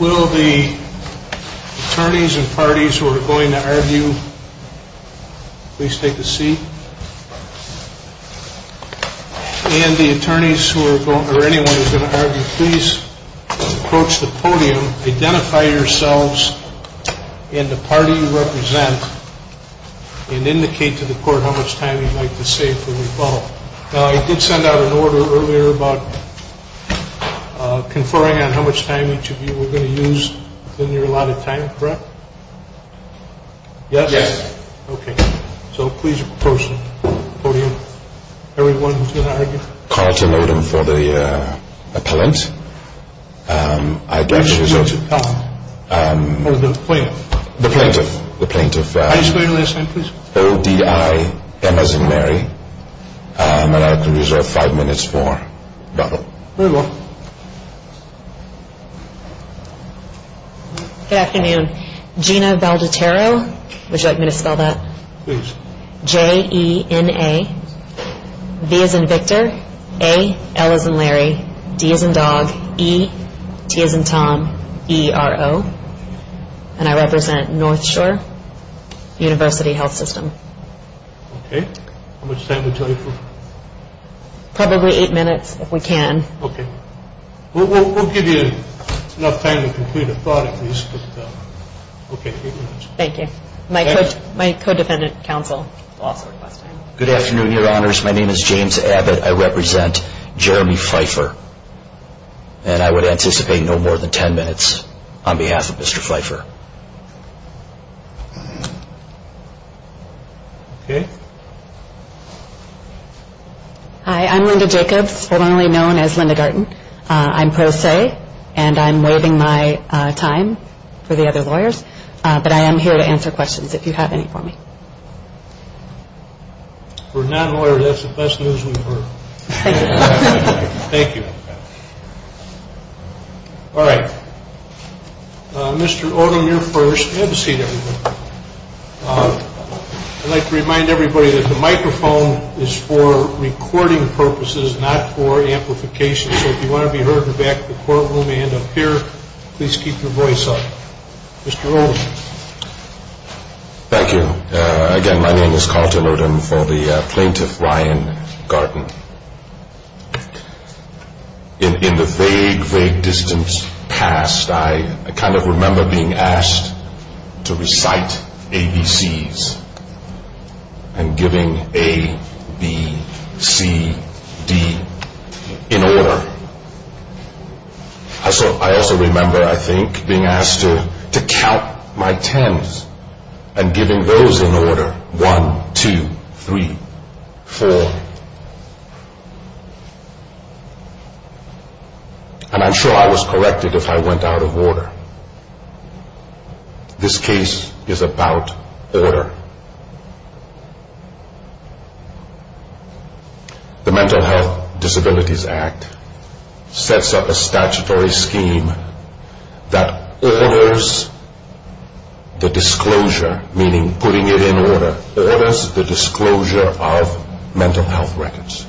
Will the attorneys and parties who are going to argue, please take a seat. And the attorneys or anyone who is going to argue, please approach the podium, identify yourselves and the party you represent and indicate to the court how much time you would like to save for rebuttal. Now I did send out an order earlier about conferring on how much time each of you were going to use within your allotted time, correct? Yes? Yes. Okay, so please approach the podium. Everyone who is going to argue. Call to modem for the appellant. I'd like to reserve... Or the plaintiff. The plaintiff. The plaintiff. I swear your last name, please. O, D, I, M as in Mary. And I can reserve five minutes for rebuttal. Very well. Good afternoon. Gina Valgetero, would you like me to spell that? Please. J, E, N, A. V as in Victor. A, L as in Larry. D as in dog. E, T as in Tom. E, R, O. And I represent North Shore University Health System. Okay, how much time would you like for rebuttal? Probably eight minutes if we can. Okay. We'll give you enough time to complete a thought at least. Okay, eight minutes. Thank you. My co-defendant counsel. Good afternoon, your honors. My name is James Abbott. I represent Jeremy Pfeiffer. And I would anticipate no more than ten minutes on behalf of Mr. Pfeiffer. Okay. Hi, I'm Linda Jacobs, formerly known as Linda Garten. I'm pro se, and I'm waiving my time for the other lawyers. But I am here to answer questions if you have any for me. We're not lawyers. That's the best news we've heard. Thank you. All right. Mr. Odom, you're first. Have a seat, everybody. I'd like to remind everybody that the microphone is for recording purposes, not for amplification. So if you want to be heard in the back of the courtroom and up here, please keep your voice up. Mr. Odom. Thank you. Again, my name is Carl Tillerton for the plaintiff, Ryan Garten. In the vague, vague distance past, I kind of remember being asked to recite ABCs and giving A, B, C, D in order. I also remember, I think, being asked to count my tens and giving those in order. One, two, three, four. And I'm sure I was corrected if I went out of order. This case is about order. The Mental Health Disabilities Act sets up a statutory scheme that orders the disclosure, meaning putting it in order, orders the disclosure of mental health records.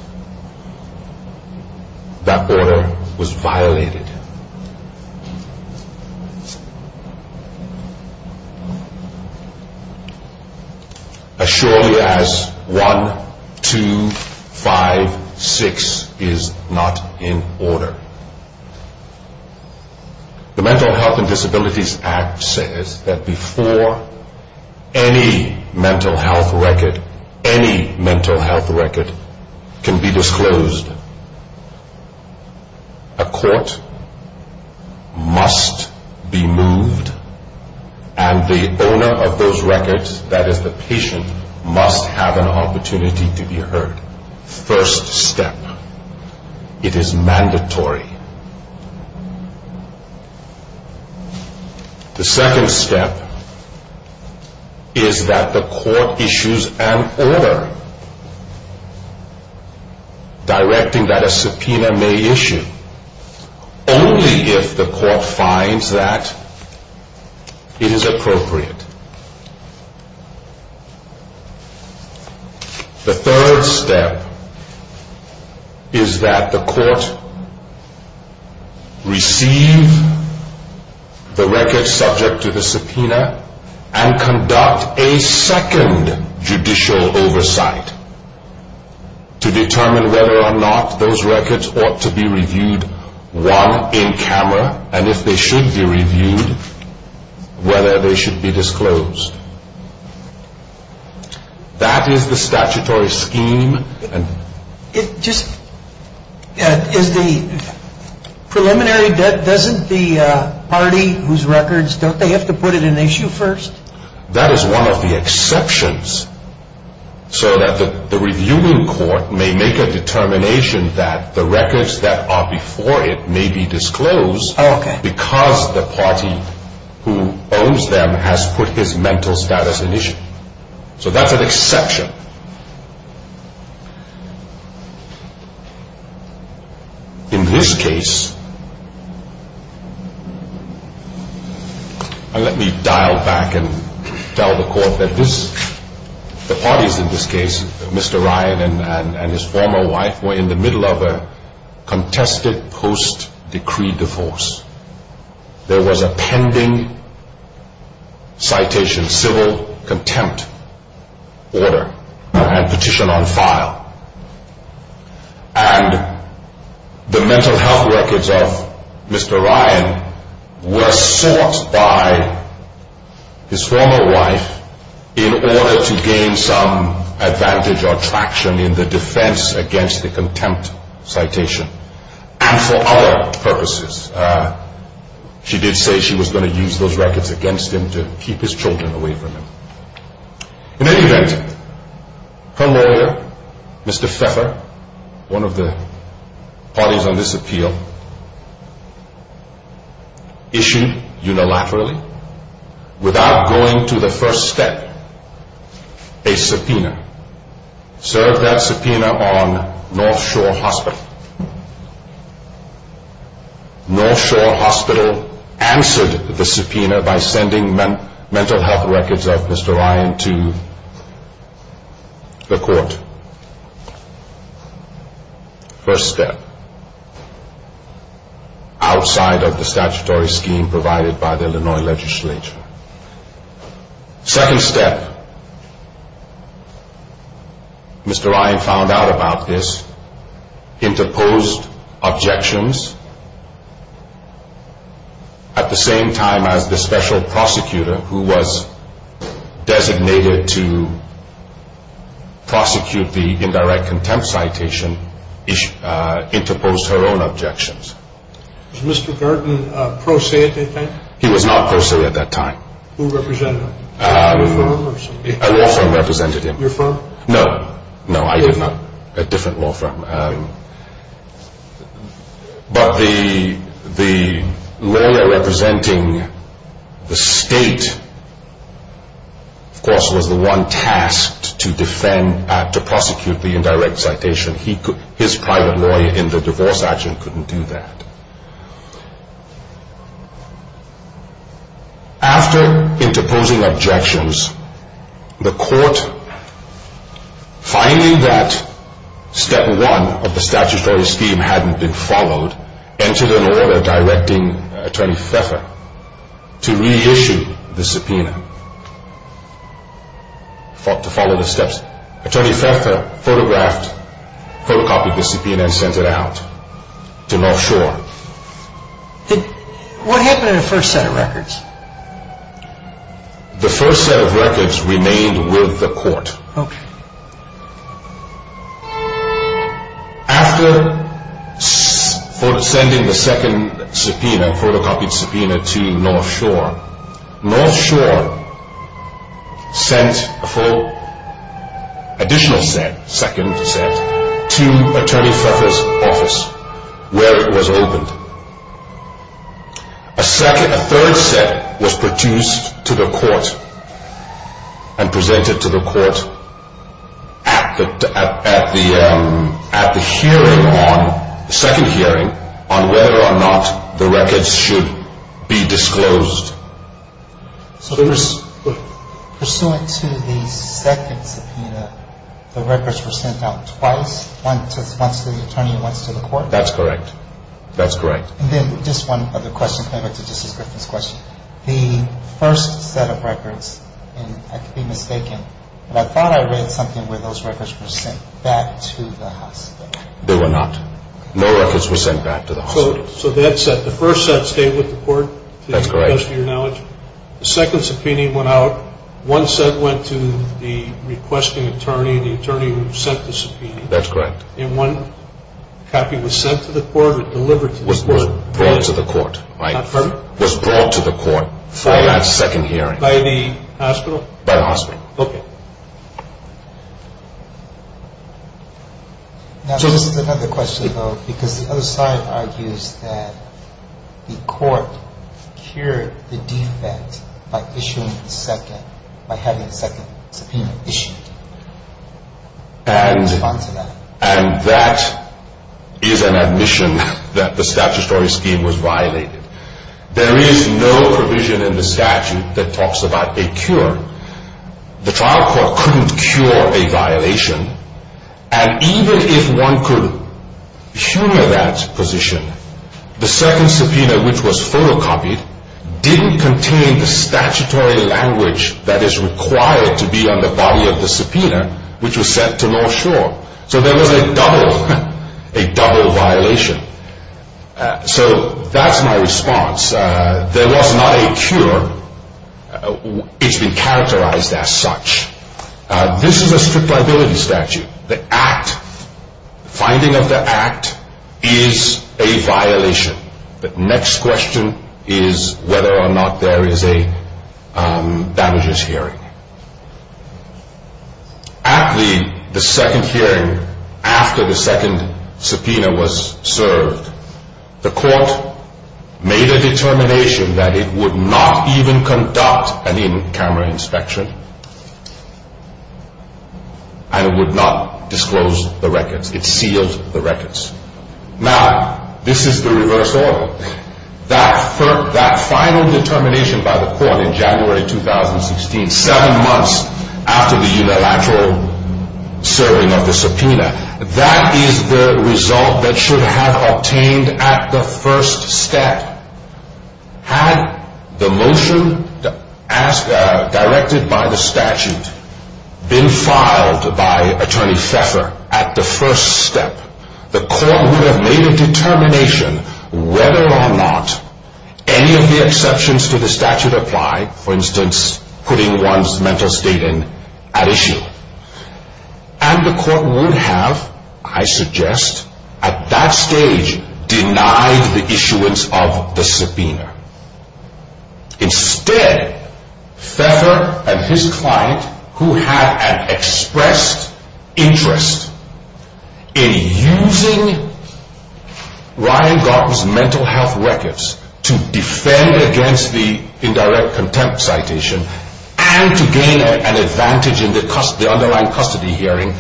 That order was violated. As surely as one, two, five, six is not in order. The Mental Health and Disabilities Act says that before any mental health record, any mental health record can be disclosed, a court must be moved and the owner of those records, that is the patient, must have an opportunity to be heard. First step. It is mandatory. The second step is that the court issues an order directing that a subpoena may issue only if the court finds that it is appropriate. The third step is that the court receive the record subject to the subpoena and conduct a second judicial oversight to determine whether or not those records ought to be reviewed, one, in camera, and if they should be reviewed, whether they should be disclosed. That is the statutory scheme. Is the preliminary, doesn't the party whose records, don't they have to put it in issue first? That is one of the exceptions so that the reviewing court may make a determination that the records that are before it may be disclosed because the party who owns them has put his mental status in issue. So that's an exception. In this case, let me dial back and tell the court that this, the parties in this case, Mr. Ryan and his former wife, were in the middle of a contested post-decree divorce. There was a pending citation, civil contempt order and petition on file. And the mental health records of Mr. Ryan were sought by his former wife in order to gain some advantage or traction in the defense against the contempt citation. And for other purposes. She did say she was going to use those records against him to keep his children away from him. In any event, her lawyer, Mr. Pfeffer, one of the parties on this appeal, issued unilaterally, without going to the first step, a subpoena. Served that subpoena on North Shore Hospital. North Shore Hospital answered the subpoena by sending mental health records of Mr. Ryan to the court. First step. Outside of the statutory scheme provided by the Illinois legislature. Second step. Mr. Ryan found out about this, interposed objections. At the same time as the special prosecutor who was designated to prosecute the indirect contempt citation, interposed her own objections. Was Mr. Burton pro se at that time? He was not pro se at that time. Who represented him? Your firm? A law firm represented him. Your firm? No, no, I did not. A different law firm. But the lawyer representing the state, of course, was the one tasked to defend, to prosecute the indirect citation. His private lawyer in the divorce action couldn't do that. After interposing objections, the court, finding that step one of the statutory scheme hadn't been followed, entered an order directing Attorney Pfeffer to reissue the subpoena, to follow the steps. Attorney Pfeffer photographed the subpoena and sent it out to North Shore. What happened to the first set of records? The first set of records remained with the court. After sending the second subpoena, photocopied subpoena to North Shore, North Shore sent a full additional set, second set, to Attorney Pfeffer's office where it was opened. A third set was produced to the court and presented to the court at the hearing on, the second hearing, on whether or not the records should be disclosed. Pursuant to the second subpoena, the records were sent out twice? Once to the attorney and once to the court? That's correct. That's correct. And then just one other question, going back to Justice Griffin's question. The first set of records, and I could be mistaken, but I thought I read something where those records were sent back to the hospital. They were not. No records were sent back to the hospital. So that set, the first set stayed with the court? That's correct. To the best of your knowledge. The second subpoena went out. One set went to the requesting attorney, the attorney who sent the subpoena. That's correct. And one copy was sent to the court or delivered to the court? Was brought to the court. Was brought to the court for that second hearing. By the hospital? By the hospital. Okay. Now, this is another question, though, because the other side argues that the court cured the defect by issuing the second, by having the second subpoena issued. And that is an admission that the statutory scheme was violated. There is no provision in the statute that talks about a cure. The trial court couldn't cure a violation. And even if one could humor that position, the second subpoena, which was photocopied, didn't contain the statutory language that is required to be on the body of the subpoena, which was sent to North Shore. So there was a double, a double violation. So that's my response. There was not a cure. It's been characterized as such. This is a strict liability statute. The act, finding of the act, is a violation. The next question is whether or not there is a damages hearing. At the second hearing, after the second subpoena was served, the court made a determination that it would not even conduct an in-camera inspection. And it would not disclose the records. It sealed the records. Now, this is the reverse order. That final determination by the court in January 2016, seven months after the unilateral serving of the subpoena, that is the result that should have obtained at the first step. Had the motion directed by the statute been filed by Attorney Pfeffer at the first step, the court would have made a determination whether or not any of the exceptions to the statute apply, for instance, putting one's mental state at issue. And the court would have, I suggest, at that stage denied the issuance of the subpoena. Instead, Pfeffer and his client, who had an expressed interest in using Ryan Gartner's mental health records to defend against the indirect contempt citation, and to gain an advantage in the underlying custody hearing,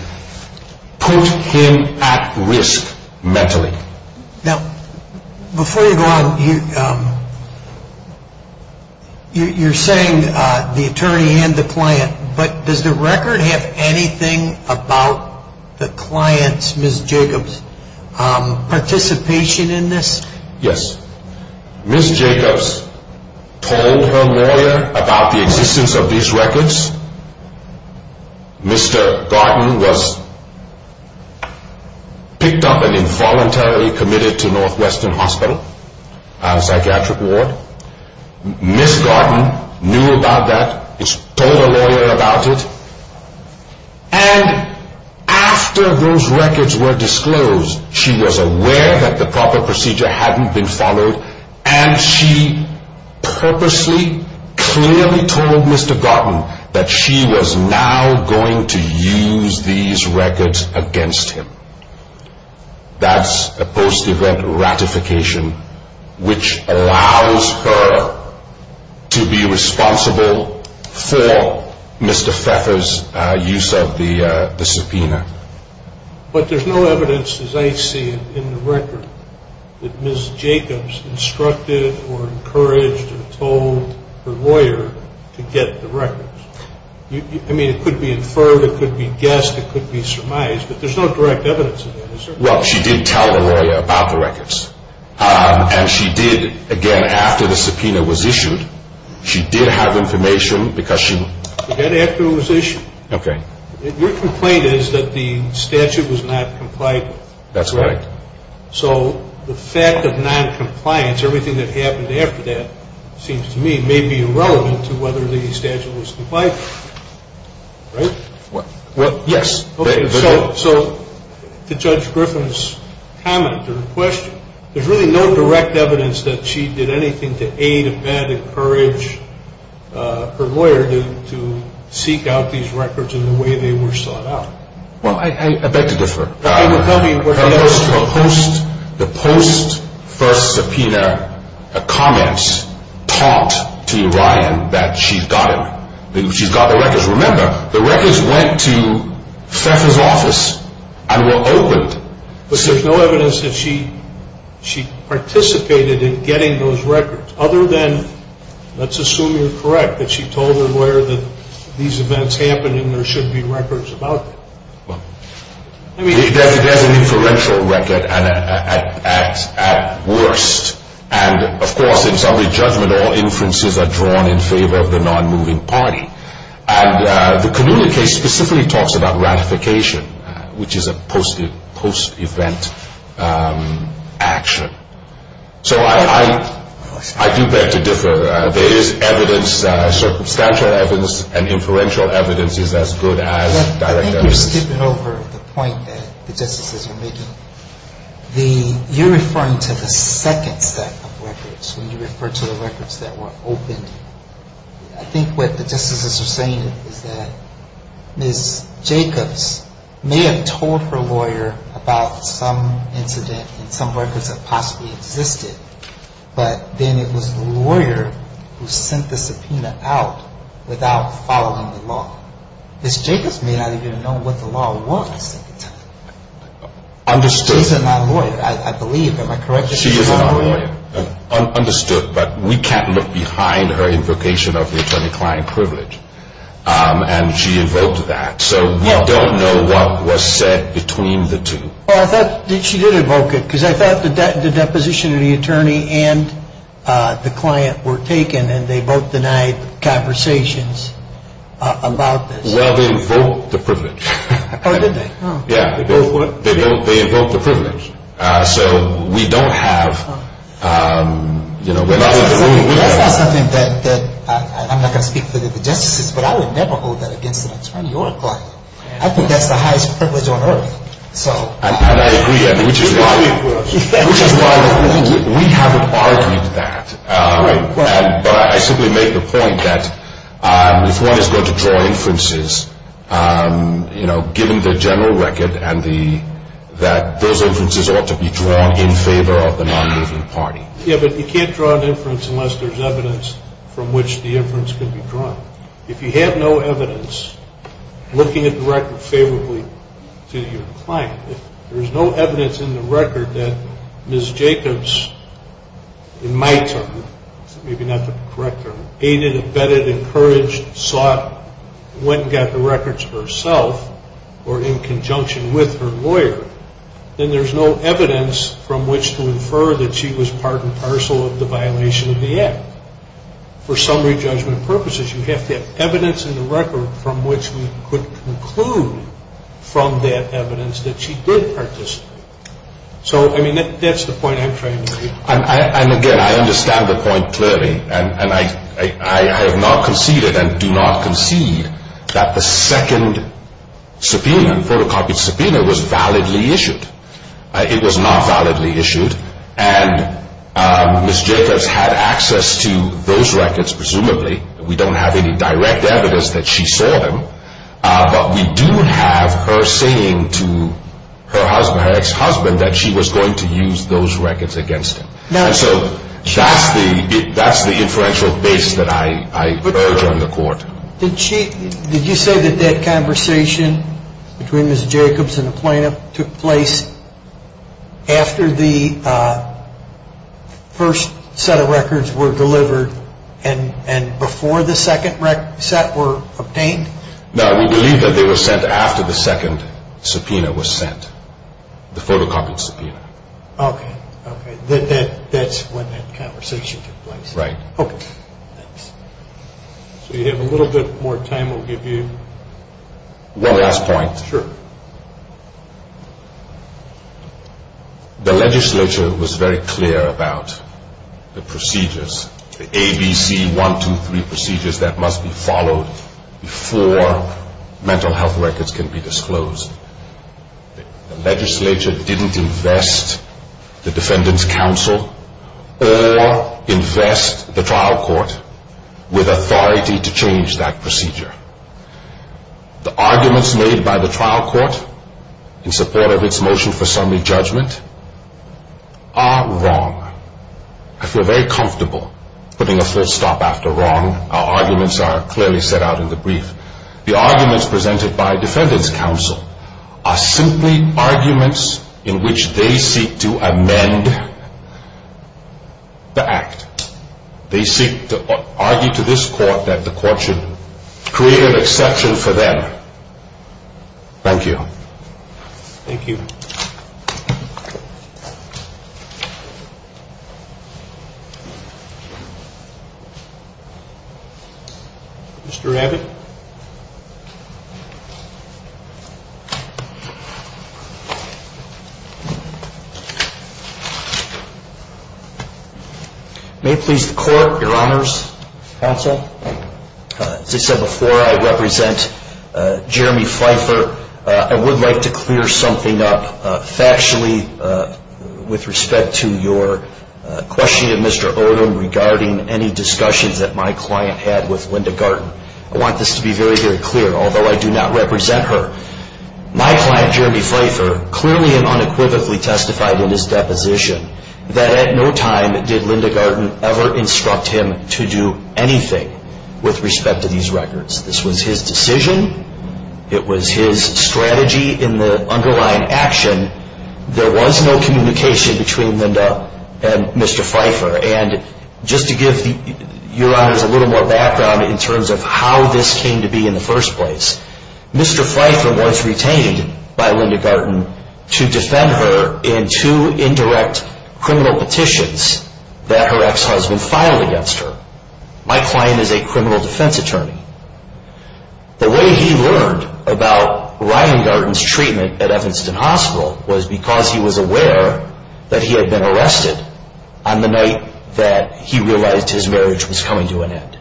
put him at risk mentally. Now, before you go on, you're saying the attorney and the client, but does the record have anything about the client's, Ms. Jacobs' participation in this? Yes. Ms. Jacobs told her lawyer about the existence of these records. Mr. Gartner was picked up and involuntarily committed to Northwestern Hospital, a psychiatric ward. Ms. Gartner knew about that, told her lawyer about it, and after those records were disclosed, she was aware that the proper procedure hadn't been followed, and she purposely clearly told Mr. Gartner that she was now going to use these records against him. That's a post-event ratification, which allows her to be responsible for Mr. Pfeffer's use of the subpoena. But there's no evidence, as I see it, in the record, that Ms. Jacobs instructed or encouraged or told her lawyer to get the records. I mean, it could be inferred, it could be guessed, it could be surmised, but there's no direct evidence of that, is there? Well, she did tell the lawyer about the records, and she did, again, after the subpoena was issued, she did have information because she... Again, after it was issued. Okay. Your complaint is that the statute was not complied with. That's right. So the fact of noncompliance, everything that happened after that, seems to me, may be irrelevant to whether the statute was complied with. Right? Well, yes. Okay. So to Judge Griffin's comment or question, there's really no direct evidence that she did anything to aid, abet, encourage her lawyer to seek out these records in the way they were sought out. Well, I beg to differ. Tell me what the evidence is. The post-first subpoena comments taught to Ryan that she's got it, that she's got the records. Remember, the records went to Pfeffer's office and were opened. But there's no evidence that she participated in getting those records, other than, let's assume you're correct, that she told her lawyer that these events happened and there should be records about them. Well, there's an inferential record at worst. And, of course, in summary judgment, all inferences are drawn in favor of the nonmoving party. And the Canula case specifically talks about ratification, which is a post-event action. So I do beg to differ. There is evidence, circumstantial evidence, and inferential evidence is as good as direct evidence. I think you're skipping over the point that the justices are making. You're referring to the second set of records when you refer to the records that were opened. I think what the justices are saying is that Ms. Jacobs may have told her lawyer about some incident and some records that possibly existed, but then it was the lawyer who sent the subpoena out without following the law. Ms. Jacobs may not even know what the law was at the time. Understood. She's a non-lawyer, I believe. Am I correct? She is a non-lawyer. Understood. But we can't look behind her invocation of the attorney-client privilege. And she invoked that. So we don't know what was said between the two. Well, I thought that she did invoke it, because I thought the deposition of the attorney and the client were taken, and they both denied conversations about this. Well, they invoked the privilege. Oh, did they? Yeah. They both what? They invoked the privilege. So we don't have, you know, we're not going to... That's not something that I'm not going to speak for the justices, but I would never hold that against an attorney or a client. I think that's the highest privilege on earth. And I agree, which is why we haven't argued that. But I simply make the point that if one is going to draw inferences, you know, given the general record and that those inferences ought to be drawn in favor of the non-moving party. Yeah, but you can't draw an inference unless there's evidence from which the inference can be drawn. If you have no evidence, looking at the record favorably to your client, if there's no evidence in the record that Ms. Jacobs, in my term, maybe not the correct term, aided, abetted, encouraged, sought, went and got the records herself or in conjunction with her lawyer, then there's no evidence from which to infer that she was part and parcel of the violation of the act. For summary judgment purposes, you have to have evidence in the record from which we could conclude from that evidence that she did participate. So, I mean, that's the point I'm trying to make. And again, I understand the point clearly, and I have not conceded and do not concede that the second subpoena, photocopied subpoena, was validly issued. It was not validly issued. And Ms. Jacobs had access to those records, presumably. We don't have any direct evidence that she saw them. But we do have her saying to her ex-husband that she was going to use those records against him. And so that's the inferential base that I urge on the Court. Did you say that that conversation between Ms. Jacobs and the plaintiff took place after the first set of records were delivered and before the second set were obtained? No, we believe that they were sent after the second subpoena was sent, the photocopied subpoena. Okay. Okay. That's when that conversation took place. Right. Okay. So you have a little bit more time we'll give you. One last point. Sure. The legislature was very clear about the procedures, the A, B, C, 1, 2, 3 procedures that must be followed before mental health records can be disclosed. The legislature didn't invest the Defendant's Counsel or invest the trial court with authority to change that procedure. The arguments made by the trial court in support of its motion for summary judgment are wrong. I feel very comfortable putting a full stop after wrong. Our arguments are clearly set out in the brief. The arguments presented by Defendant's Counsel are simply arguments in which they seek to amend the act. They seek to argue to this court that the court should create an exception for them. Thank you. Thank you. Thank you. Mr. Abbott? May it please the court, your honors, counsel, as I said before, I represent Jeremy Pfeiffer. I would like to clear something up factually with respect to your questioning of Mr. Odom regarding any discussions that my client had with Linda Garten. I want this to be very, very clear, although I do not represent her. My client, Jeremy Pfeiffer, clearly and unequivocally testified in his deposition that at no time did Linda Garten ever instruct him to do anything with respect to these records. This was his decision. It was his strategy in the underlying action. There was no communication between Linda and Mr. Pfeiffer. And just to give your honors a little more background in terms of how this came to be in the first place, Mr. Pfeiffer was retained by Linda Garten to defend her in two indirect criminal petitions that her ex-husband filed against her. My client is a criminal defense attorney. The way he learned about Ryan Garten's treatment at Evanston Hospital was because he was aware that he had been arrested on the night that he realized his marriage was coming to an end.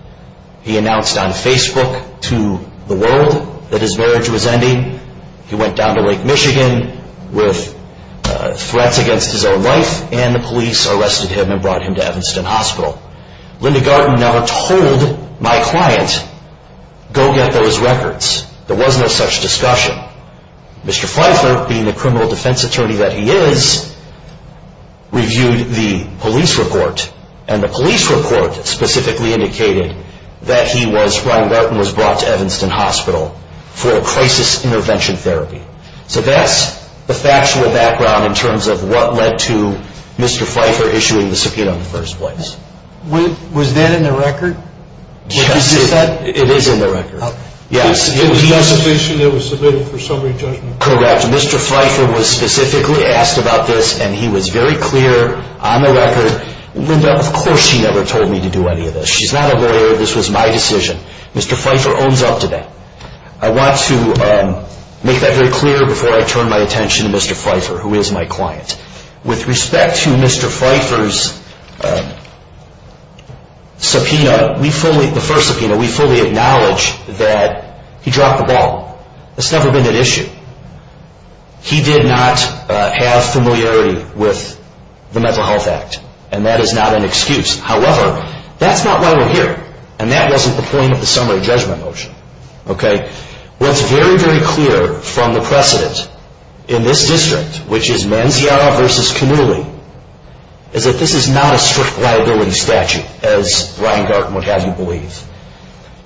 He announced on Facebook to the world that his marriage was ending. He went down to Lake Michigan with threats against his own life, and the police arrested him and brought him to Evanston Hospital. Linda Garten never told my client, go get those records. There was no such discussion. Mr. Pfeiffer, being the criminal defense attorney that he is, reviewed the police report, and the police report specifically indicated that Ryan Garten was brought to Evanston Hospital for crisis intervention therapy. So that's the factual background in terms of what led to Mr. Pfeiffer issuing the subpoena in the first place. Was that in the record? Yes, it is in the record. It was the submission that was submitted for summary judgment? Correct. Mr. Pfeiffer was specifically asked about this, and he was very clear on the record. Linda, of course she never told me to do any of this. She's not a lawyer. This was my decision. Mr. Pfeiffer owns up to that. I want to make that very clear before I turn my attention to Mr. Pfeiffer, who is my client. With respect to Mr. Pfeiffer's subpoena, the first subpoena, we fully acknowledge that he dropped the ball. That's never been an issue. He did not have familiarity with the Mental Health Act, and that is not an excuse. However, that's not why we're here, and that wasn't the point of the summary judgment motion. What's very, very clear from the precedent in this district, which is Manziara v. Cannuli, is that this is not a strict liability statute, as Ryan Garten would have you believe.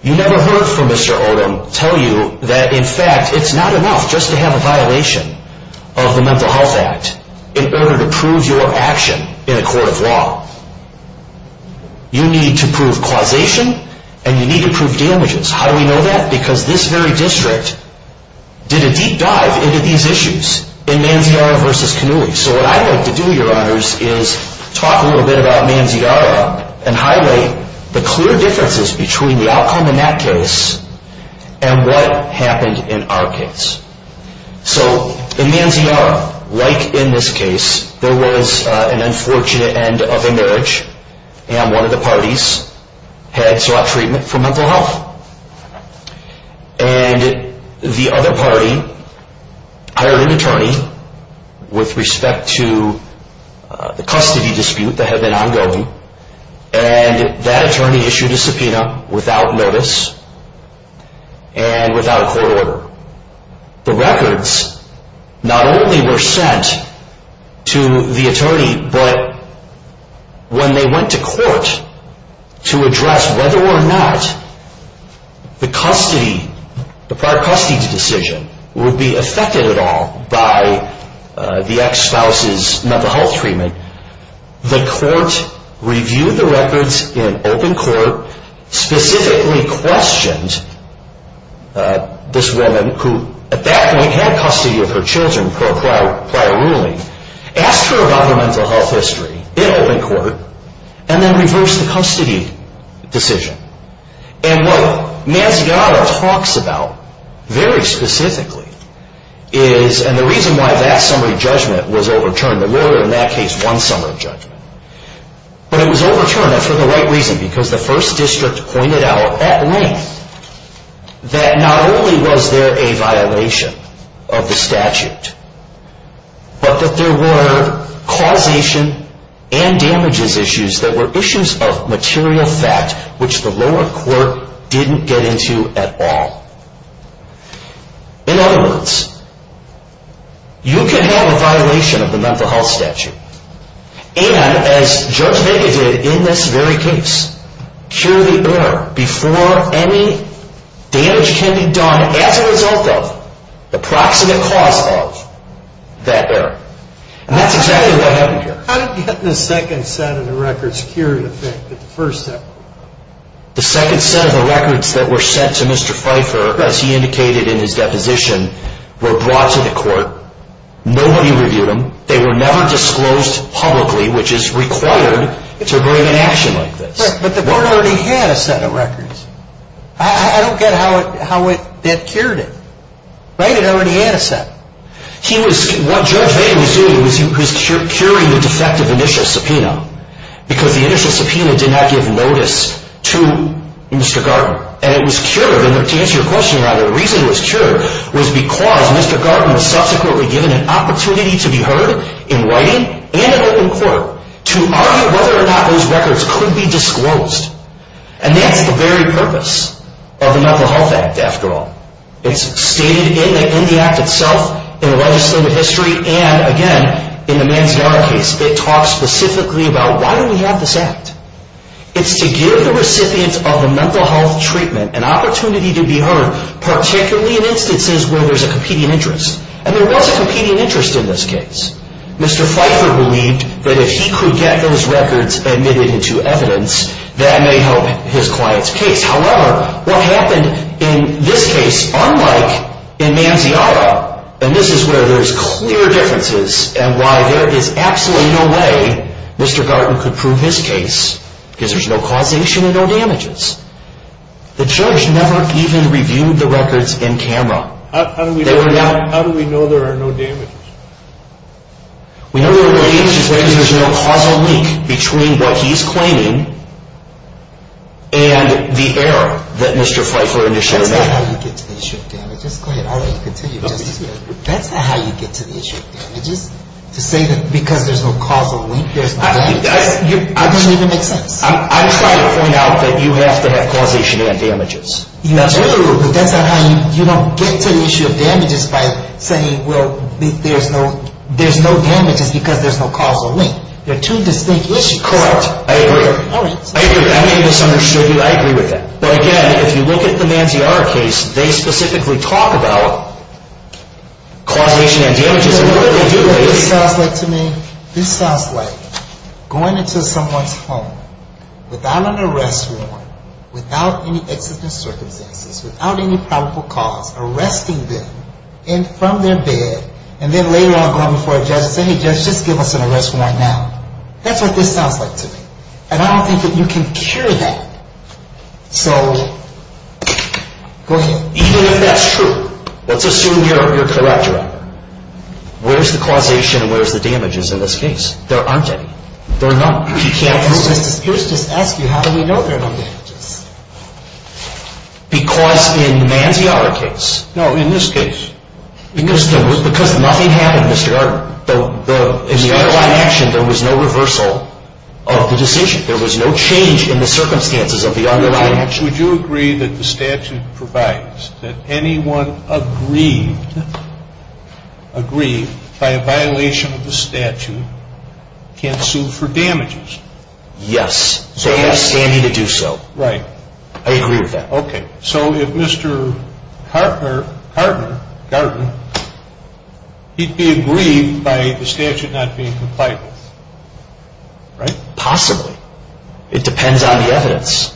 You never heard from Mr. Olin tell you that, in fact, it's not enough just to have a violation of the Mental Health Act in order to prove your action in a court of law. You need to prove causation, and you need to prove damages. How do we know that? Because this very district did a deep dive into these issues in Manziara v. Cannuli. So what I'd like to do, Your Honors, is talk a little bit about Manziara and highlight the clear differences between the outcome in that case and what happened in our case. So in Manziara, like in this case, there was an unfortunate end of a marriage, and one of the parties had sought treatment for mental health. And the other party hired an attorney with respect to the custody dispute that had been ongoing, and that attorney issued a subpoena without notice and without court order. The records not only were sent to the attorney, but when they went to court to address whether or not the prior custody decision would be affected at all by the ex-spouse's mental health treatment, the court reviewed the records in open court, specifically questioned this woman, who at that point had custody of her children per prior ruling, asked her about her mental health history in open court, and then reversed the custody decision. And what Manziara talks about very specifically is, and the reason why that summary judgment was overturned, there was in that case one summary judgment, but it was overturned, and for the right reason, because the First District pointed out at length that not only was there a violation of the statute, but that there were causation and damages issues that were issues of material fact which the lower court didn't get into at all. In other words, you can have a violation of the mental health statute, and as Judge Vega did in this very case, cure the error before any damage can be done as a result of the proximate cause of that error. And that's exactly what happened here. How did you get the second set of the records cured in effect at the first step? The second set of the records that were sent to Mr. Pfeiffer, as he indicated in his deposition, were brought to the court. Nobody reviewed them. They were never disclosed publicly, which is required to bring an action like this. But the court already had a set of records. I don't get how that cured it. Right? It already had a set. What Judge Vega was doing was curing the defective initial subpoena, because the initial subpoena did not give notice to Mr. Garten. And it was cured, and to answer your question, rather, the reason it was cured was because Mr. Garten was subsequently given an opportunity to be heard in writing and in open court to argue whether or not those records could be disclosed. And that's the very purpose of the Mental Health Act, after all. It's stated in the Act itself in the legislative history, and, again, in the Manziara case, it talks specifically about why do we have this Act. It's to give the recipients of the mental health treatment an opportunity to be heard, particularly in instances where there's a competing interest. And there was a competing interest in this case. Mr. Pfeiffer believed that if he could get those records admitted into evidence, that may help his client's case. However, what happened in this case, unlike in Manziara, and this is where there's clear differences, and why there is absolutely no way Mr. Garten could prove his case, because there's no causation and no damages. The Church never even reviewed the records in camera. How do we know there are no damages? We know there are no damages because there's no causal link between what he's claiming and the error that Mr. Pfeiffer initially made. That's not how you get to the issue of damages. To say that because there's no causal link, there's no damages. That doesn't even make sense. I'm trying to point out that you have to have causation and damages. You do, but that's not how you get to the issue of damages by saying, well, there's no damages because there's no causal link. They're two distinct issues. Correct. I agree. All right. I agree. I may have misunderstood you. I agree with that. But, again, if you look at the Manziarra case, they specifically talk about causation and damages. What this sounds like to me, this sounds like going into someone's home without an arrest warrant, without any existence circumstances, without any probable cause, arresting them from their bed, and then later on going before a judge and saying, hey, judge, just give us an arrest warrant now. That's what this sounds like to me. And I don't think that you can cure that. So, go ahead. Even if that's true, let's assume you're correct, Robert. Where's the causation and where's the damages in this case? There aren't any. There are none. Yeah, because Mr. Pierce just asked you, how do we know there are no damages? Because in the Manziarra case. No, in this case. Because nothing happened, Mr. Gardner. In the other line of action, there was no reversal of the decision. There was no change in the circumstances of the other line of action. Would you agree that the statute provides that anyone aggrieved by a violation of the statute can sue for damages? Yes. They have standing to do so. Right. I agree with that. Okay. So, if Mr. Gardner, he'd be aggrieved by the statute not being compliant, right? Possibly. It depends on the evidence.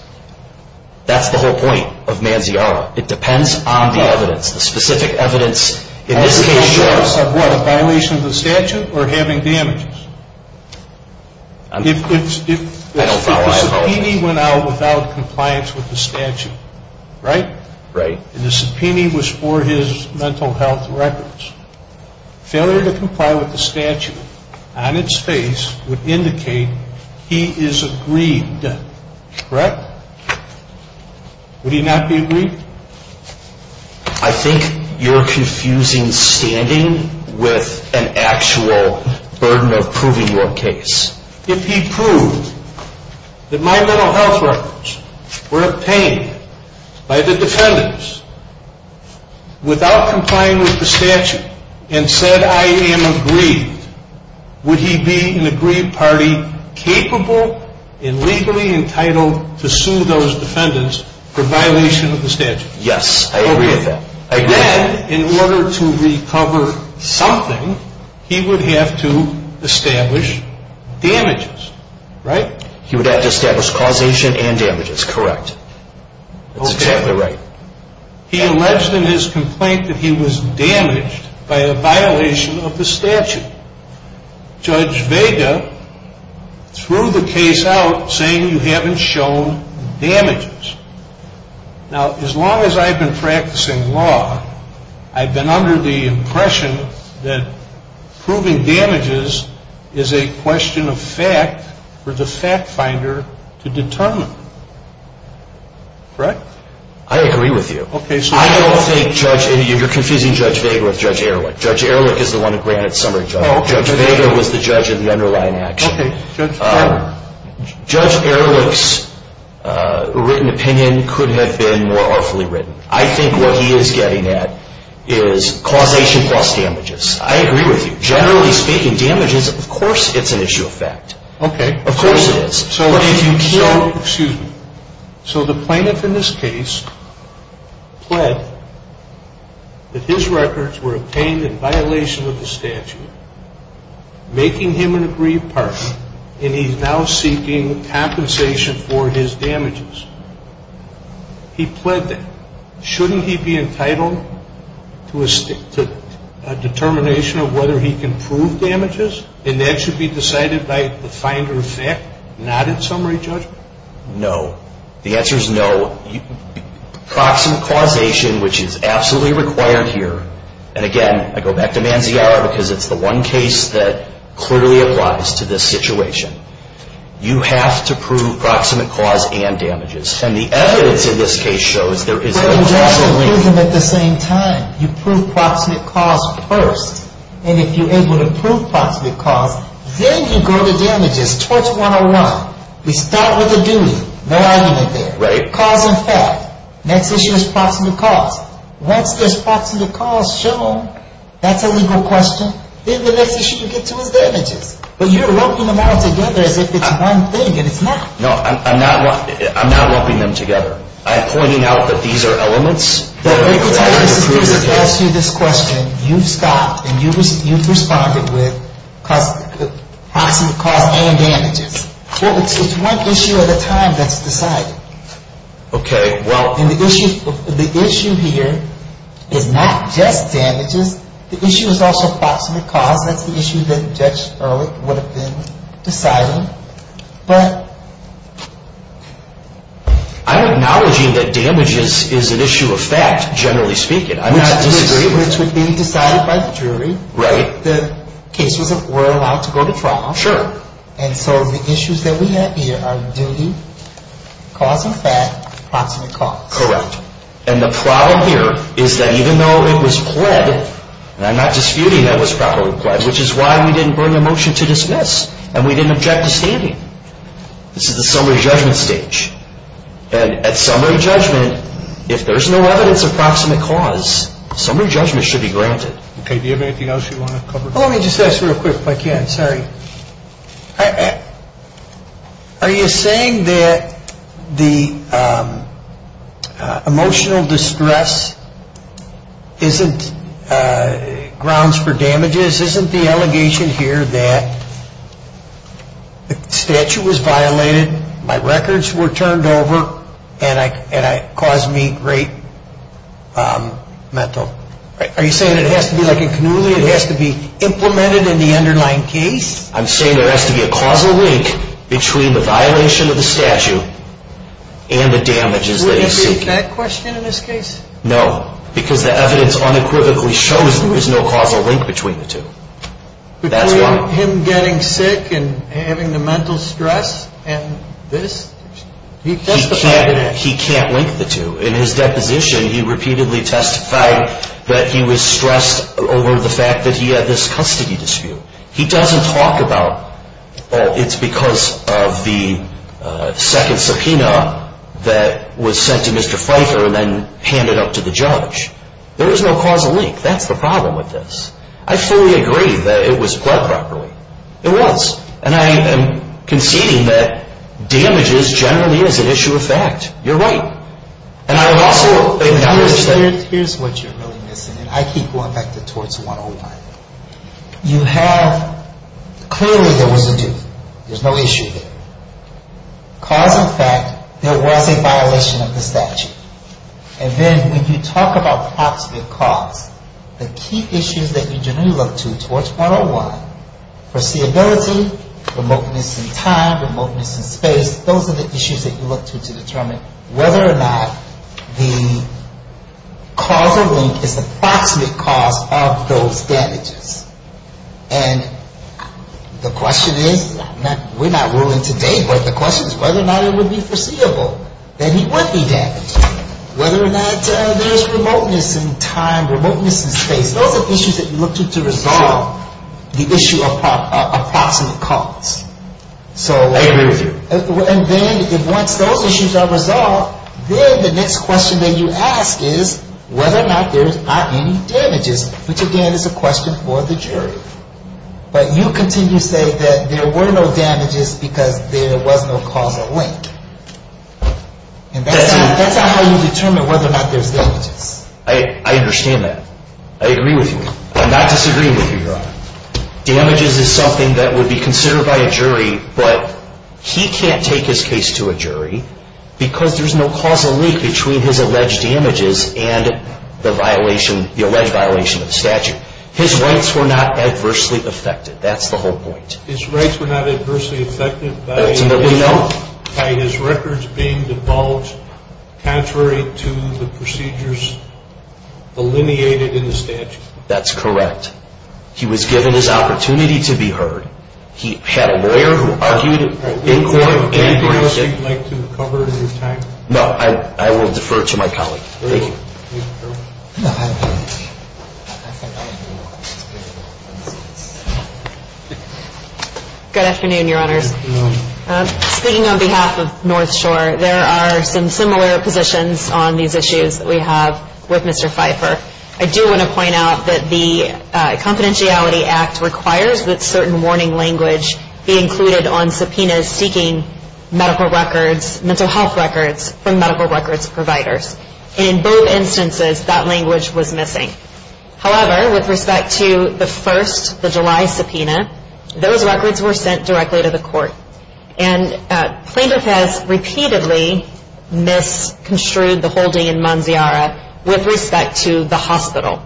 That's the whole point of Manziarra. It depends on the evidence, the specific evidence. In this case, yes. As a result of what? A violation of the statute or having damages? If the subpoena went out without compliance with the statute, right? Right. And the subpoena was for his mental health records. Failure to comply with the statute on its face would indicate he is aggrieved, correct? Would he not be aggrieved? I think you're confusing standing with an actual burden of proving your case. If he proved that my mental health records were obtained by the defendants without complying with the statute and said I am aggrieved, would he be an aggrieved party capable and legally entitled to sue those defendants for violation of the statute? Yes, I agree with that. Then, in order to recover something, he would have to establish damages, right? He would have to establish causation and damages, correct. That's exactly right. He alleged in his complaint that he was damaged by a violation of the statute. Judge Vega threw the case out saying you haven't shown damages. Now, as long as I've been practicing law, I've been under the impression that proving damages is a question of fact for the fact finder to determine, correct? I agree with you. You're confusing Judge Vega with Judge Ehrlich. Judge Ehrlich is the one who granted summary judgment. Judge Vega was the judge of the underlying action. Judge Ehrlich's written opinion could have been more artfully written. I think what he is getting at is causation plus damages. I agree with you. Generally speaking, damages, of course it's an issue of fact. Of course it is. So the plaintiff in this case pled that his records were obtained in violation of the statute, making him an aggrieved partner, and he's now seeking compensation for his damages. He pled that. Shouldn't he be entitled to a determination of whether he can prove damages? And that should be decided by the finder of fact, not in summary judgment? No. The answer is no. Proximate causation, which is absolutely required here, and again, I go back to Manziara because it's the one case that clearly applies to this situation. You have to prove proximate cause and damages. And the evidence in this case shows there is no causal link. But you have to prove them at the same time. You prove proximate cause first, and if you're able to prove proximate cause, then you go to damages. Torch 101. We start with a duty. No argument there. Right. Cause and fact. Next issue is proximate cause. Once there's proximate cause shown, that's a legal question. Then the next issue you get to is damages. But you're lumping them all together as if it's one thing, and it's not. No, I'm not lumping them together. I'm pointing out that these are elements that are required to prove your case. Let me tell you, this is just to ask you this question. You've stopped, and you've responded with proximate cause and damages. It's one issue at a time that's decided. Okay. And the issue here is not just damages. The issue is also proximate cause. That's the issue that Judge Ehrlich would have been deciding. But I'm acknowledging that damages is an issue of fact, generally speaking. I'm not disagreeing. Which would be decided by the jury. Right. The cases were allowed to go to trial. Sure. And so the issues that we have here are duty, cause and fact, proximate cause. Correct. And the problem here is that even though it was pled, and I'm not disputing that it was properly pled, which is why we didn't bring a motion to dismiss, and we didn't object to standing. This is the summary judgment stage. And at summary judgment, if there's no evidence of proximate cause, summary judgment should be granted. Okay. Do you have anything else you want to cover? Sorry. Are you saying that the emotional distress isn't grounds for damages? Isn't the allegation here that the statute was violated, my records were turned over, and it caused me great mental? Are you saying it has to be like a cannula? It has to be implemented in the underlying case? I'm saying there has to be a causal link between the violation of the statute and the damages that he's seeking. Would it be that question in this case? No, because the evidence unequivocally shows there is no causal link between the two. Between him getting sick and having the mental stress and this? He can't link the two. In his deposition, he repeatedly testified that he was stressed over the fact that he had this custody dispute. He doesn't talk about it's because of the second subpoena that was sent to Mr. Pfeiffer and then handed up to the judge. There is no causal link. That's the problem with this. I fully agree that it was pled properly. It was. And I am conceding that damages generally is an issue of fact. You're right. And I would also acknowledge that. Here's what you're really missing, and I keep going back to torts 101. You have clearly there was a dispute. There's no issue there. Cause and fact, there was a violation of the statute. And then when you talk about approximate cause, the key issues that you generally look to towards 101, foreseeability, remoteness in time, remoteness in space, those are the issues that you look to to determine whether or not the causal link is the approximate cause of those damages. And the question is, we're not ruling today, but the question is whether or not it would be foreseeable that he would be damaged, whether or not there's remoteness in time, remoteness in space. Those are the issues that you look to to resolve the issue of approximate cause. I agree with you. And then once those issues are resolved, then the next question that you ask is whether or not there are any damages, which again is a question for the jury. But you continue to say that there were no damages because there was no causal link. And that's not how you determine whether or not there's damages. I understand that. I agree with you. I'm not disagreeing with you, Your Honor. Damages is something that would be considered by a jury, but he can't take his case to a jury because there's no causal link between his alleged damages and the alleged violation of the statute. His rights were not adversely affected. That's the whole point. His rights were not adversely affected by his records being divulged contrary to the procedures delineated in the statute. That's correct. He was given his opportunity to be heard. He had a lawyer who argued in court. Is there anything else you'd like to cover in your time? No, I will defer to my colleague. Thank you. Good afternoon, Your Honors. Good afternoon. Speaking on behalf of North Shore, there are some similar positions on these issues that we have with Mr. Pfeiffer. I do want to point out that the Confidentiality Act requires that certain warning language be included on subpoenas seeking medical records, mental health records, from medical records providers. In both instances, that language was missing. However, with respect to the first, the July subpoena, those records were sent directly to the court. And plaintiff has repeatedly misconstrued the holding in Manziara with respect to the hospital.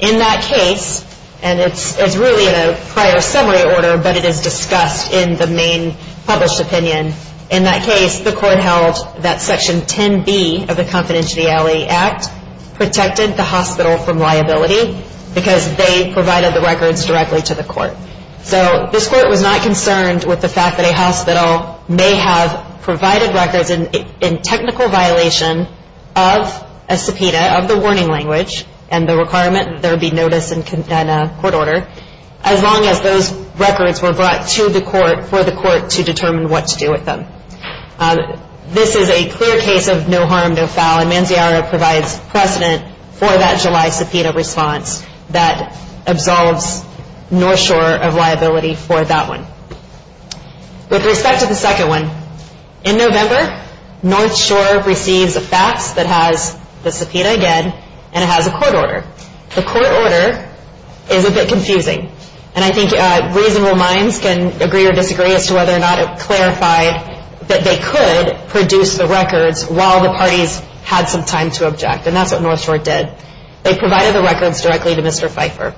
In that case, and it's really in a prior summary order, but it is discussed in the main published opinion, in that case the court held that Section 10B of the Confidentiality Act protected the hospital from liability because they provided the records directly to the court. So this court was not concerned with the fact that a hospital may have provided records in technical violation of a subpoena, of the warning language, and the requirement that there be notice and a court order, as long as those records were brought to the court for the court to determine what to do with them. This is a clear case of no harm, no foul, and Manziara provides precedent for that July subpoena response that absolves North Shore of liability for that one. With respect to the second one, in November North Shore receives a fax that has the subpoena again, and it has a court order. The court order is a bit confusing, and I think reasonable minds can agree or disagree as to whether or not it clarified that they could produce the records while the parties had some time to object, and that's what North Shore did. They provided the records directly to Mr. Pfeiffer.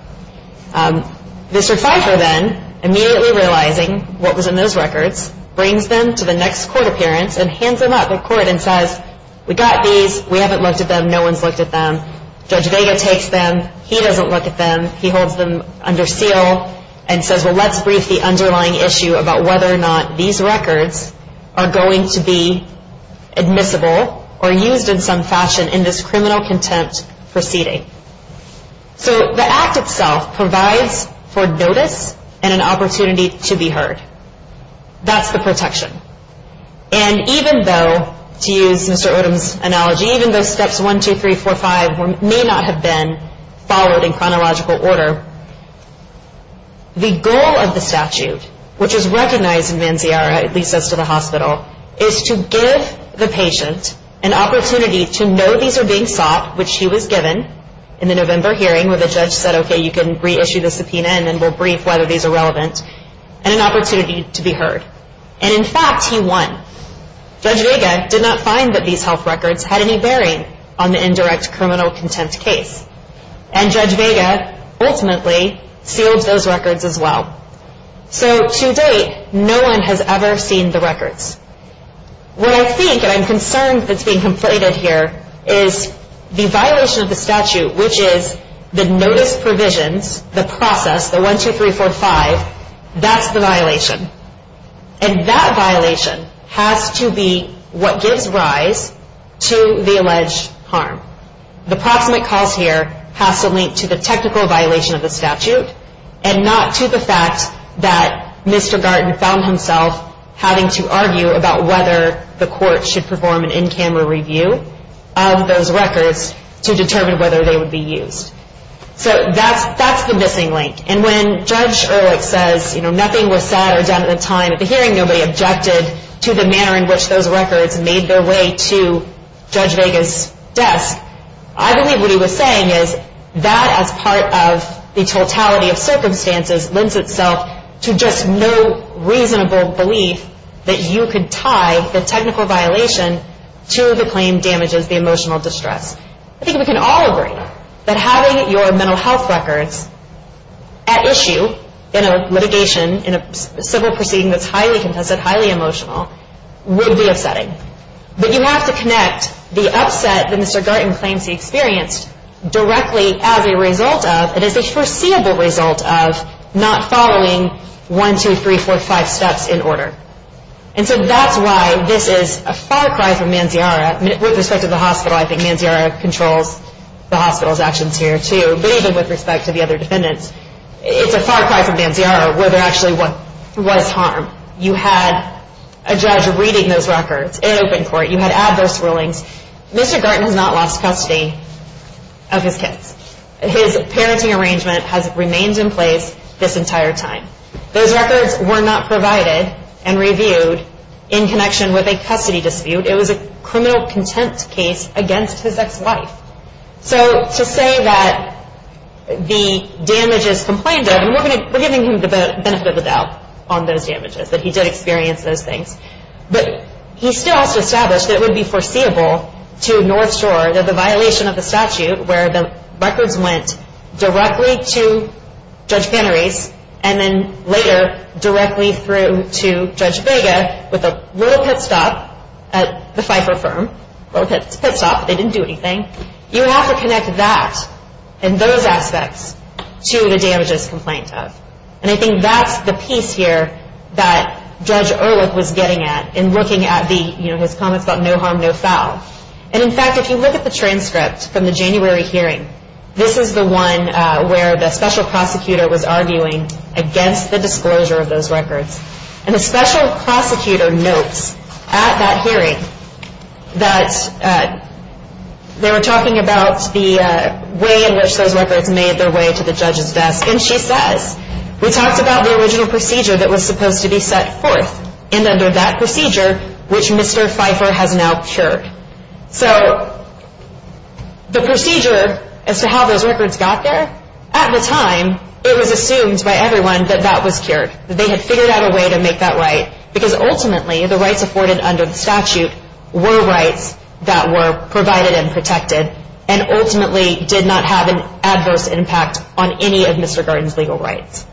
Mr. Pfeiffer then, immediately realizing what was in those records, brings them to the next court appearance and hands them up at court and says, we got these, we haven't looked at them, no one's looked at them. Judge Vega takes them, he doesn't look at them. He holds them under seal and says, well, let's brief the underlying issue about whether or not these records are going to be admissible or used in some fashion in this criminal contempt proceeding. So the act itself provides for notice and an opportunity to be heard. That's the protection. And even though, to use Mr. Odom's analogy, even though steps 1, 2, 3, 4, 5 may not have been followed in chronological order, the goal of the statute, which is recognized in Manziarra, at least as to the hospital, is to give the patient an opportunity to know these are being sought, which he was given in the November hearing where the judge said, okay, you can reissue the subpoena and then we'll brief whether these are relevant, and an opportunity to be heard. And in fact, he won. Judge Vega did not find that these health records had any bearing on the indirect criminal contempt case. And Judge Vega ultimately sealed those records as well. So to date, no one has ever seen the records. What I think and I'm concerned that's being conflated here is the violation of the statute, which is the notice provisions, the process, the 1, 2, 3, 4, 5, that's the violation. And that violation has to be what gives rise to the alleged harm. The proximate cause here has to link to the technical violation of the statute and not to the fact that Mr. Garten found himself having to argue about whether the court should perform an in-camera review of those records to determine whether they would be used. So that's the missing link. And when Judge Ehrlich says, you know, nothing was said or done at the time of the hearing, nobody objected to the manner in which those records made their way to Judge Vega's desk, I believe what he was saying is that as part of the totality of circumstances lends itself to just no reasonable belief that you could tie the technical violation to the claim damages the emotional distress. I think we can all agree that having your mental health records at issue in a litigation, in a civil proceeding that's highly contested, highly emotional, would be upsetting. But you have to connect the upset that Mr. Garten claims he experienced directly as a result of and as a foreseeable result of not following one, two, three, four, five steps in order. And so that's why this is a far cry from Manziarra. With respect to the hospital, I think Manziarra controls the hospital's actions here too. But even with respect to the other defendants, it's a far cry from Manziarra whether actually what was harmed. You had a judge reading those records in open court. You had adverse rulings. Mr. Garten has not lost custody of his kids. His parenting arrangement has remained in place this entire time. Those records were not provided and reviewed in connection with a custody dispute. It was a criminal contempt case against his ex-wife. So to say that the damages complained of, we're giving him the benefit of the doubt on those damages, that he did experience those things. But he still has to establish that it would be foreseeable to North Shore that the violation of the statute where the records went directly to Judge Panarese and then later directly through to Judge Vega with a little pit stop at the Pfeiffer firm. A little pit stop. They didn't do anything. You have to connect that and those aspects to the damages complained of. And I think that's the piece here that Judge Ehrlich was getting at in looking at his comments about no harm, no foul. And in fact, if you look at the transcript from the January hearing, this is the one where the special prosecutor was arguing against the disclosure of those records. And the special prosecutor notes at that hearing that they were talking about the way in which those records made their way to the judge's desk. And she says, we talked about the original procedure that was supposed to be set forth and under that procedure, which Mr. Pfeiffer has now cured. So the procedure as to how those records got there, at the time it was assumed by everyone that that was cured. That they had figured out a way to make that right. Because ultimately, the rights afforded under the statute were rights that were provided and protected and ultimately did not have an adverse impact on any of Mr. Garten's legal rights.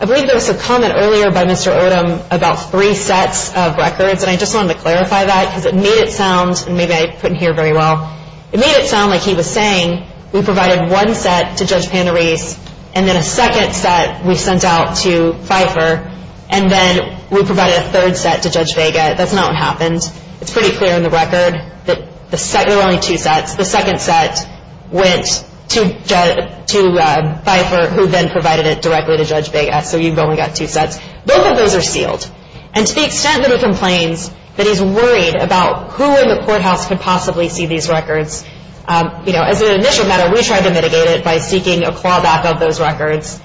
I believe there was a comment earlier by Mr. Odom about three sets of records, and I just wanted to clarify that because it made it sound, and maybe I put in here very well, it made it sound like he was saying, we provided one set to Judge Panarese and then a second set we sent out to Pfeiffer, and then we provided a third set to Judge Vega. That's not what happened. It's pretty clear in the record that there were only two sets. The second set went to Pfeiffer, who then provided it directly to Judge Vega. So you've only got two sets. Both of those are sealed. And to the extent that he complains that he's worried about who in the courthouse could possibly see these records, as an initial matter, we tried to mitigate it by seeking a clawback of those records.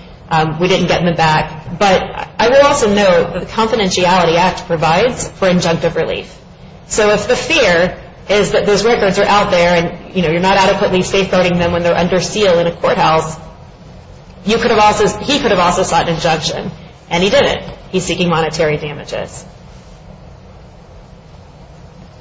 We didn't get them back. But I will also note that the Confidentiality Act provides for injunctive relief. So if the fear is that those records are out there and you're not adequately safeguarding them when they're under seal in a courthouse, he could have also sought an injunction, and he didn't. He's seeking monetary damages.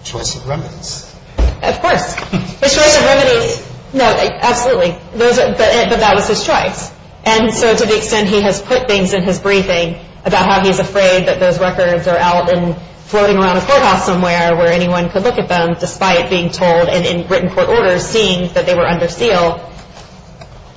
Choice of remnants. Of course. His choice of remnants. No, absolutely. But that was his choice. And so to the extent he has put things in his briefing about how he's afraid that those records are out and floating around a courthouse somewhere where anyone could look at them, despite being told and in written court orders seeing that they were under seal,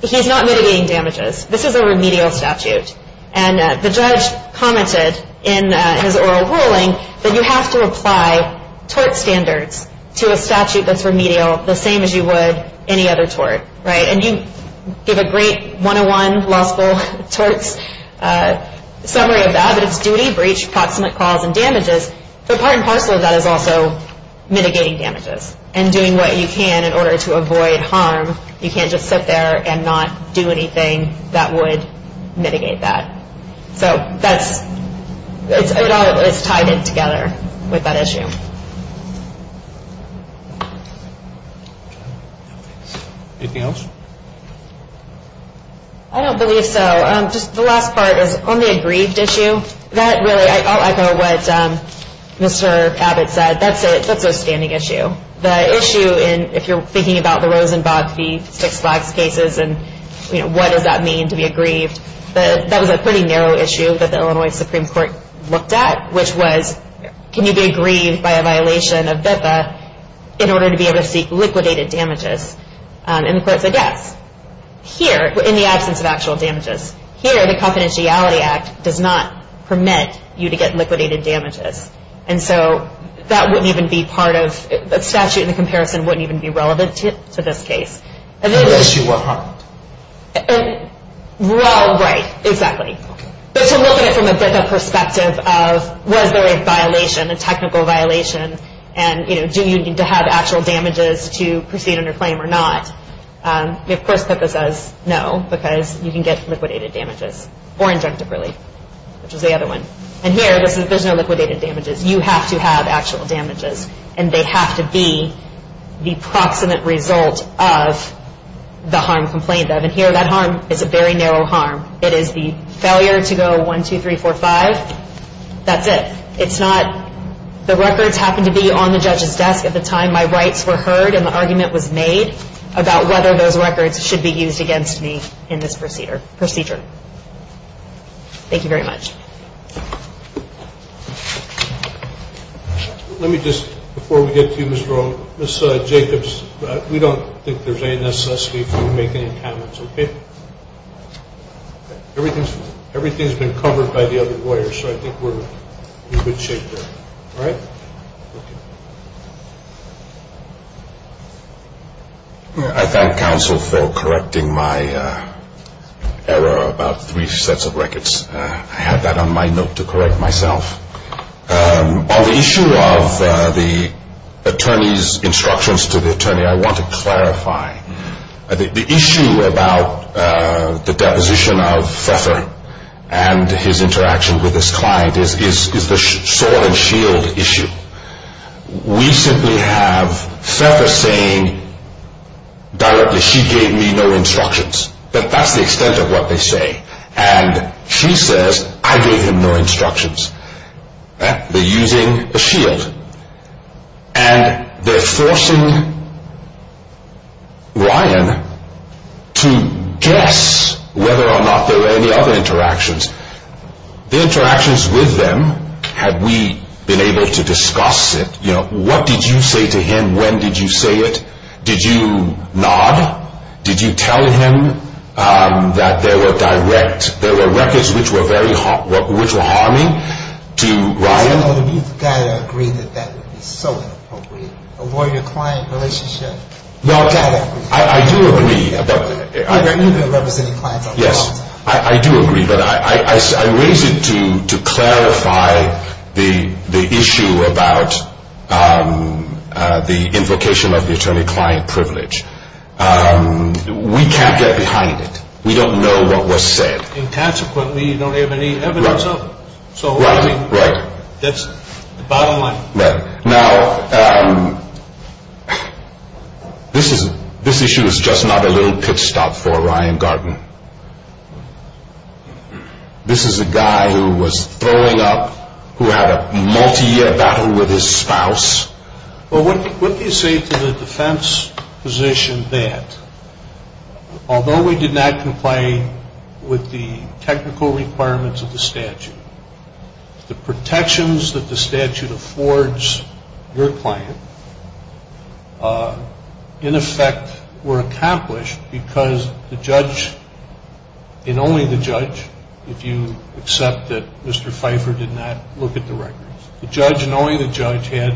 he's not mitigating damages. This is a remedial statute. And the judge commented in his oral ruling that you have to apply tort standards to a statute that's remedial the same as you would any other tort. And you give a great 101 law school torts summary of that, but it's duty, breach, proximate cause, and damages. But part and parcel of that is also mitigating damages and doing what you can in order to avoid harm. You can't just sit there and not do anything that would mitigate that. So it all is tied in together with that issue. Anything else? I don't believe so. Just the last part is on the aggrieved issue. I'll echo what Mr. Abbott said. That's a standing issue. The issue, if you're thinking about the Rosenbach v. Six Flags cases and what does that mean to be aggrieved, that was a pretty narrow issue that the Illinois Supreme Court looked at, which was can you be aggrieved by a violation of VIPA in order to be able to seek liquidated damages. And the court said yes. Here, in the absence of actual damages. Here, the confidentiality act does not permit you to get liquidated damages. And so that wouldn't even be part of the statute and the comparison wouldn't even be relevant to this case. Unless you were harmed. Well, right, exactly. But to look at it from a VIPA perspective of was there a violation, a technical violation, and do you need to have actual damages to proceed under claim or not, they of course put this as no because you can get liquidated damages or injunctive relief, which was the other one. And here, there's no liquidated damages. You have to have actual damages and they have to be the proximate result of the harm complained of. And here, that harm is a very narrow harm. It is the failure to go 1, 2, 3, 4, 5, that's it. It's not the records happened to be on the judge's desk at the time my rights were heard and the argument was made about whether those records should be used against me in this procedure. Thank you very much. Let me just, before we get to you, Ms. Rowe, Ms. Jacobs, we don't think there's any necessity for you to make any comments, okay? Everything's been covered by the other lawyers, so I think we're in good shape there. All right? Thank you. I thank counsel for correcting my error about three sets of records. I had that on my note to correct myself. On the issue of the attorney's instructions to the attorney, I want to clarify. The issue about the deposition of Pfeffer and his interaction with his client is the sword and shield issue. We simply have Pfeffer saying directly, she gave me no instructions. That's the extent of what they say. And she says, I gave him no instructions. They're using a shield. And they're forcing Ryan to guess whether or not there were any other interactions. The interactions with them, have we been able to discuss it? What did you say to him? When did you say it? Did you nod? Did you tell him that there were records which were harming to Ryan? You've got to agree that that would be so inappropriate. A lawyer-client relationship, y'all got to agree. I do agree. You've been representing clients all along. Yes, I do agree. But I raise it to clarify the issue about the invocation of the attorney-client privilege. We can't get behind it. We don't know what was said. And consequently, you don't have any evidence of it. Right. That's the bottom line. Now, this issue is just not a little pit stop for Ryan Garten. This is a guy who was throwing up, who had a multi-year battle with his spouse. Well, wouldn't you say to the defense position that, although we did not comply with the technical requirements of the statute, the protections that the statute affords your client, in effect, were accomplished because the judge, and only the judge, if you accept that Mr. Pfeiffer did not look at the records, the judge, knowing the judge had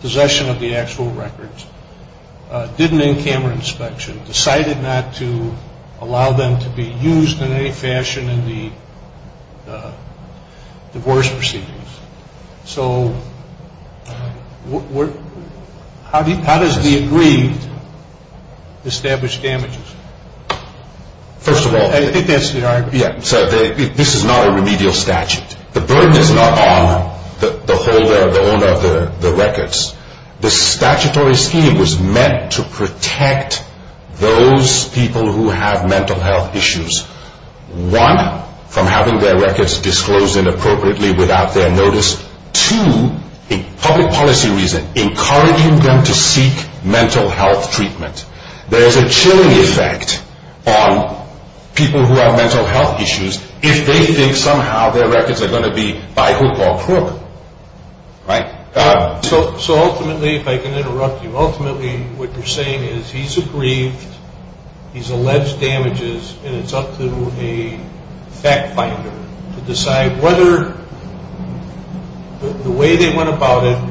possession of the actual records, did an in-camera inspection, decided not to allow them to be used in any fashion in the divorce proceedings. So how does the agreed establish damages? First of all, this is not a remedial statute. The burden is not on the holder, the owner of the records. The statutory scheme was meant to protect those people who have mental health issues. One, from having their records disclosed inappropriately without their notice. Two, in public policy reason, encouraging them to seek mental health treatment. There is a chilling effect on people who have mental health issues if they think somehow their records are going to be by hook or crook. Right. So ultimately, if I can interrupt you, ultimately what you're saying is he's aggrieved, he's alleged damages, and it's up to a fact finder to decide whether the way they went about it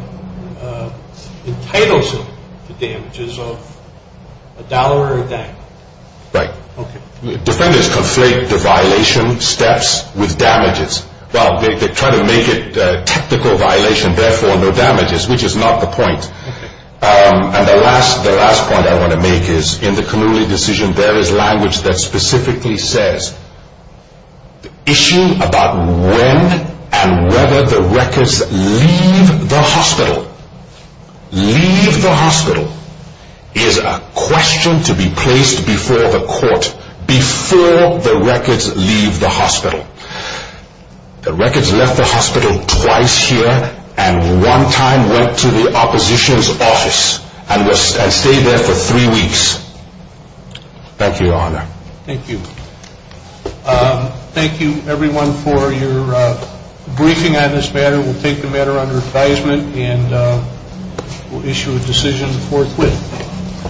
entitles him to damages of a dollar or a dime. Right. Okay. Defenders conflate the violation steps with damages. Well, they try to make it a technical violation, therefore no damages, which is not the point. And the last point I want to make is in the Kanuli decision, there is language that specifically says the issue about when and whether the records leave the hospital, leave the hospital, is a question to be placed before the court, before the records leave the hospital. The records left the hospital twice here and one time went to the opposition's office and stayed there for three weeks. Thank you, Your Honor. Thank you. Thank you, everyone, for your briefing on this matter. We'll take the matter under advisement and we'll issue a decision forthwith.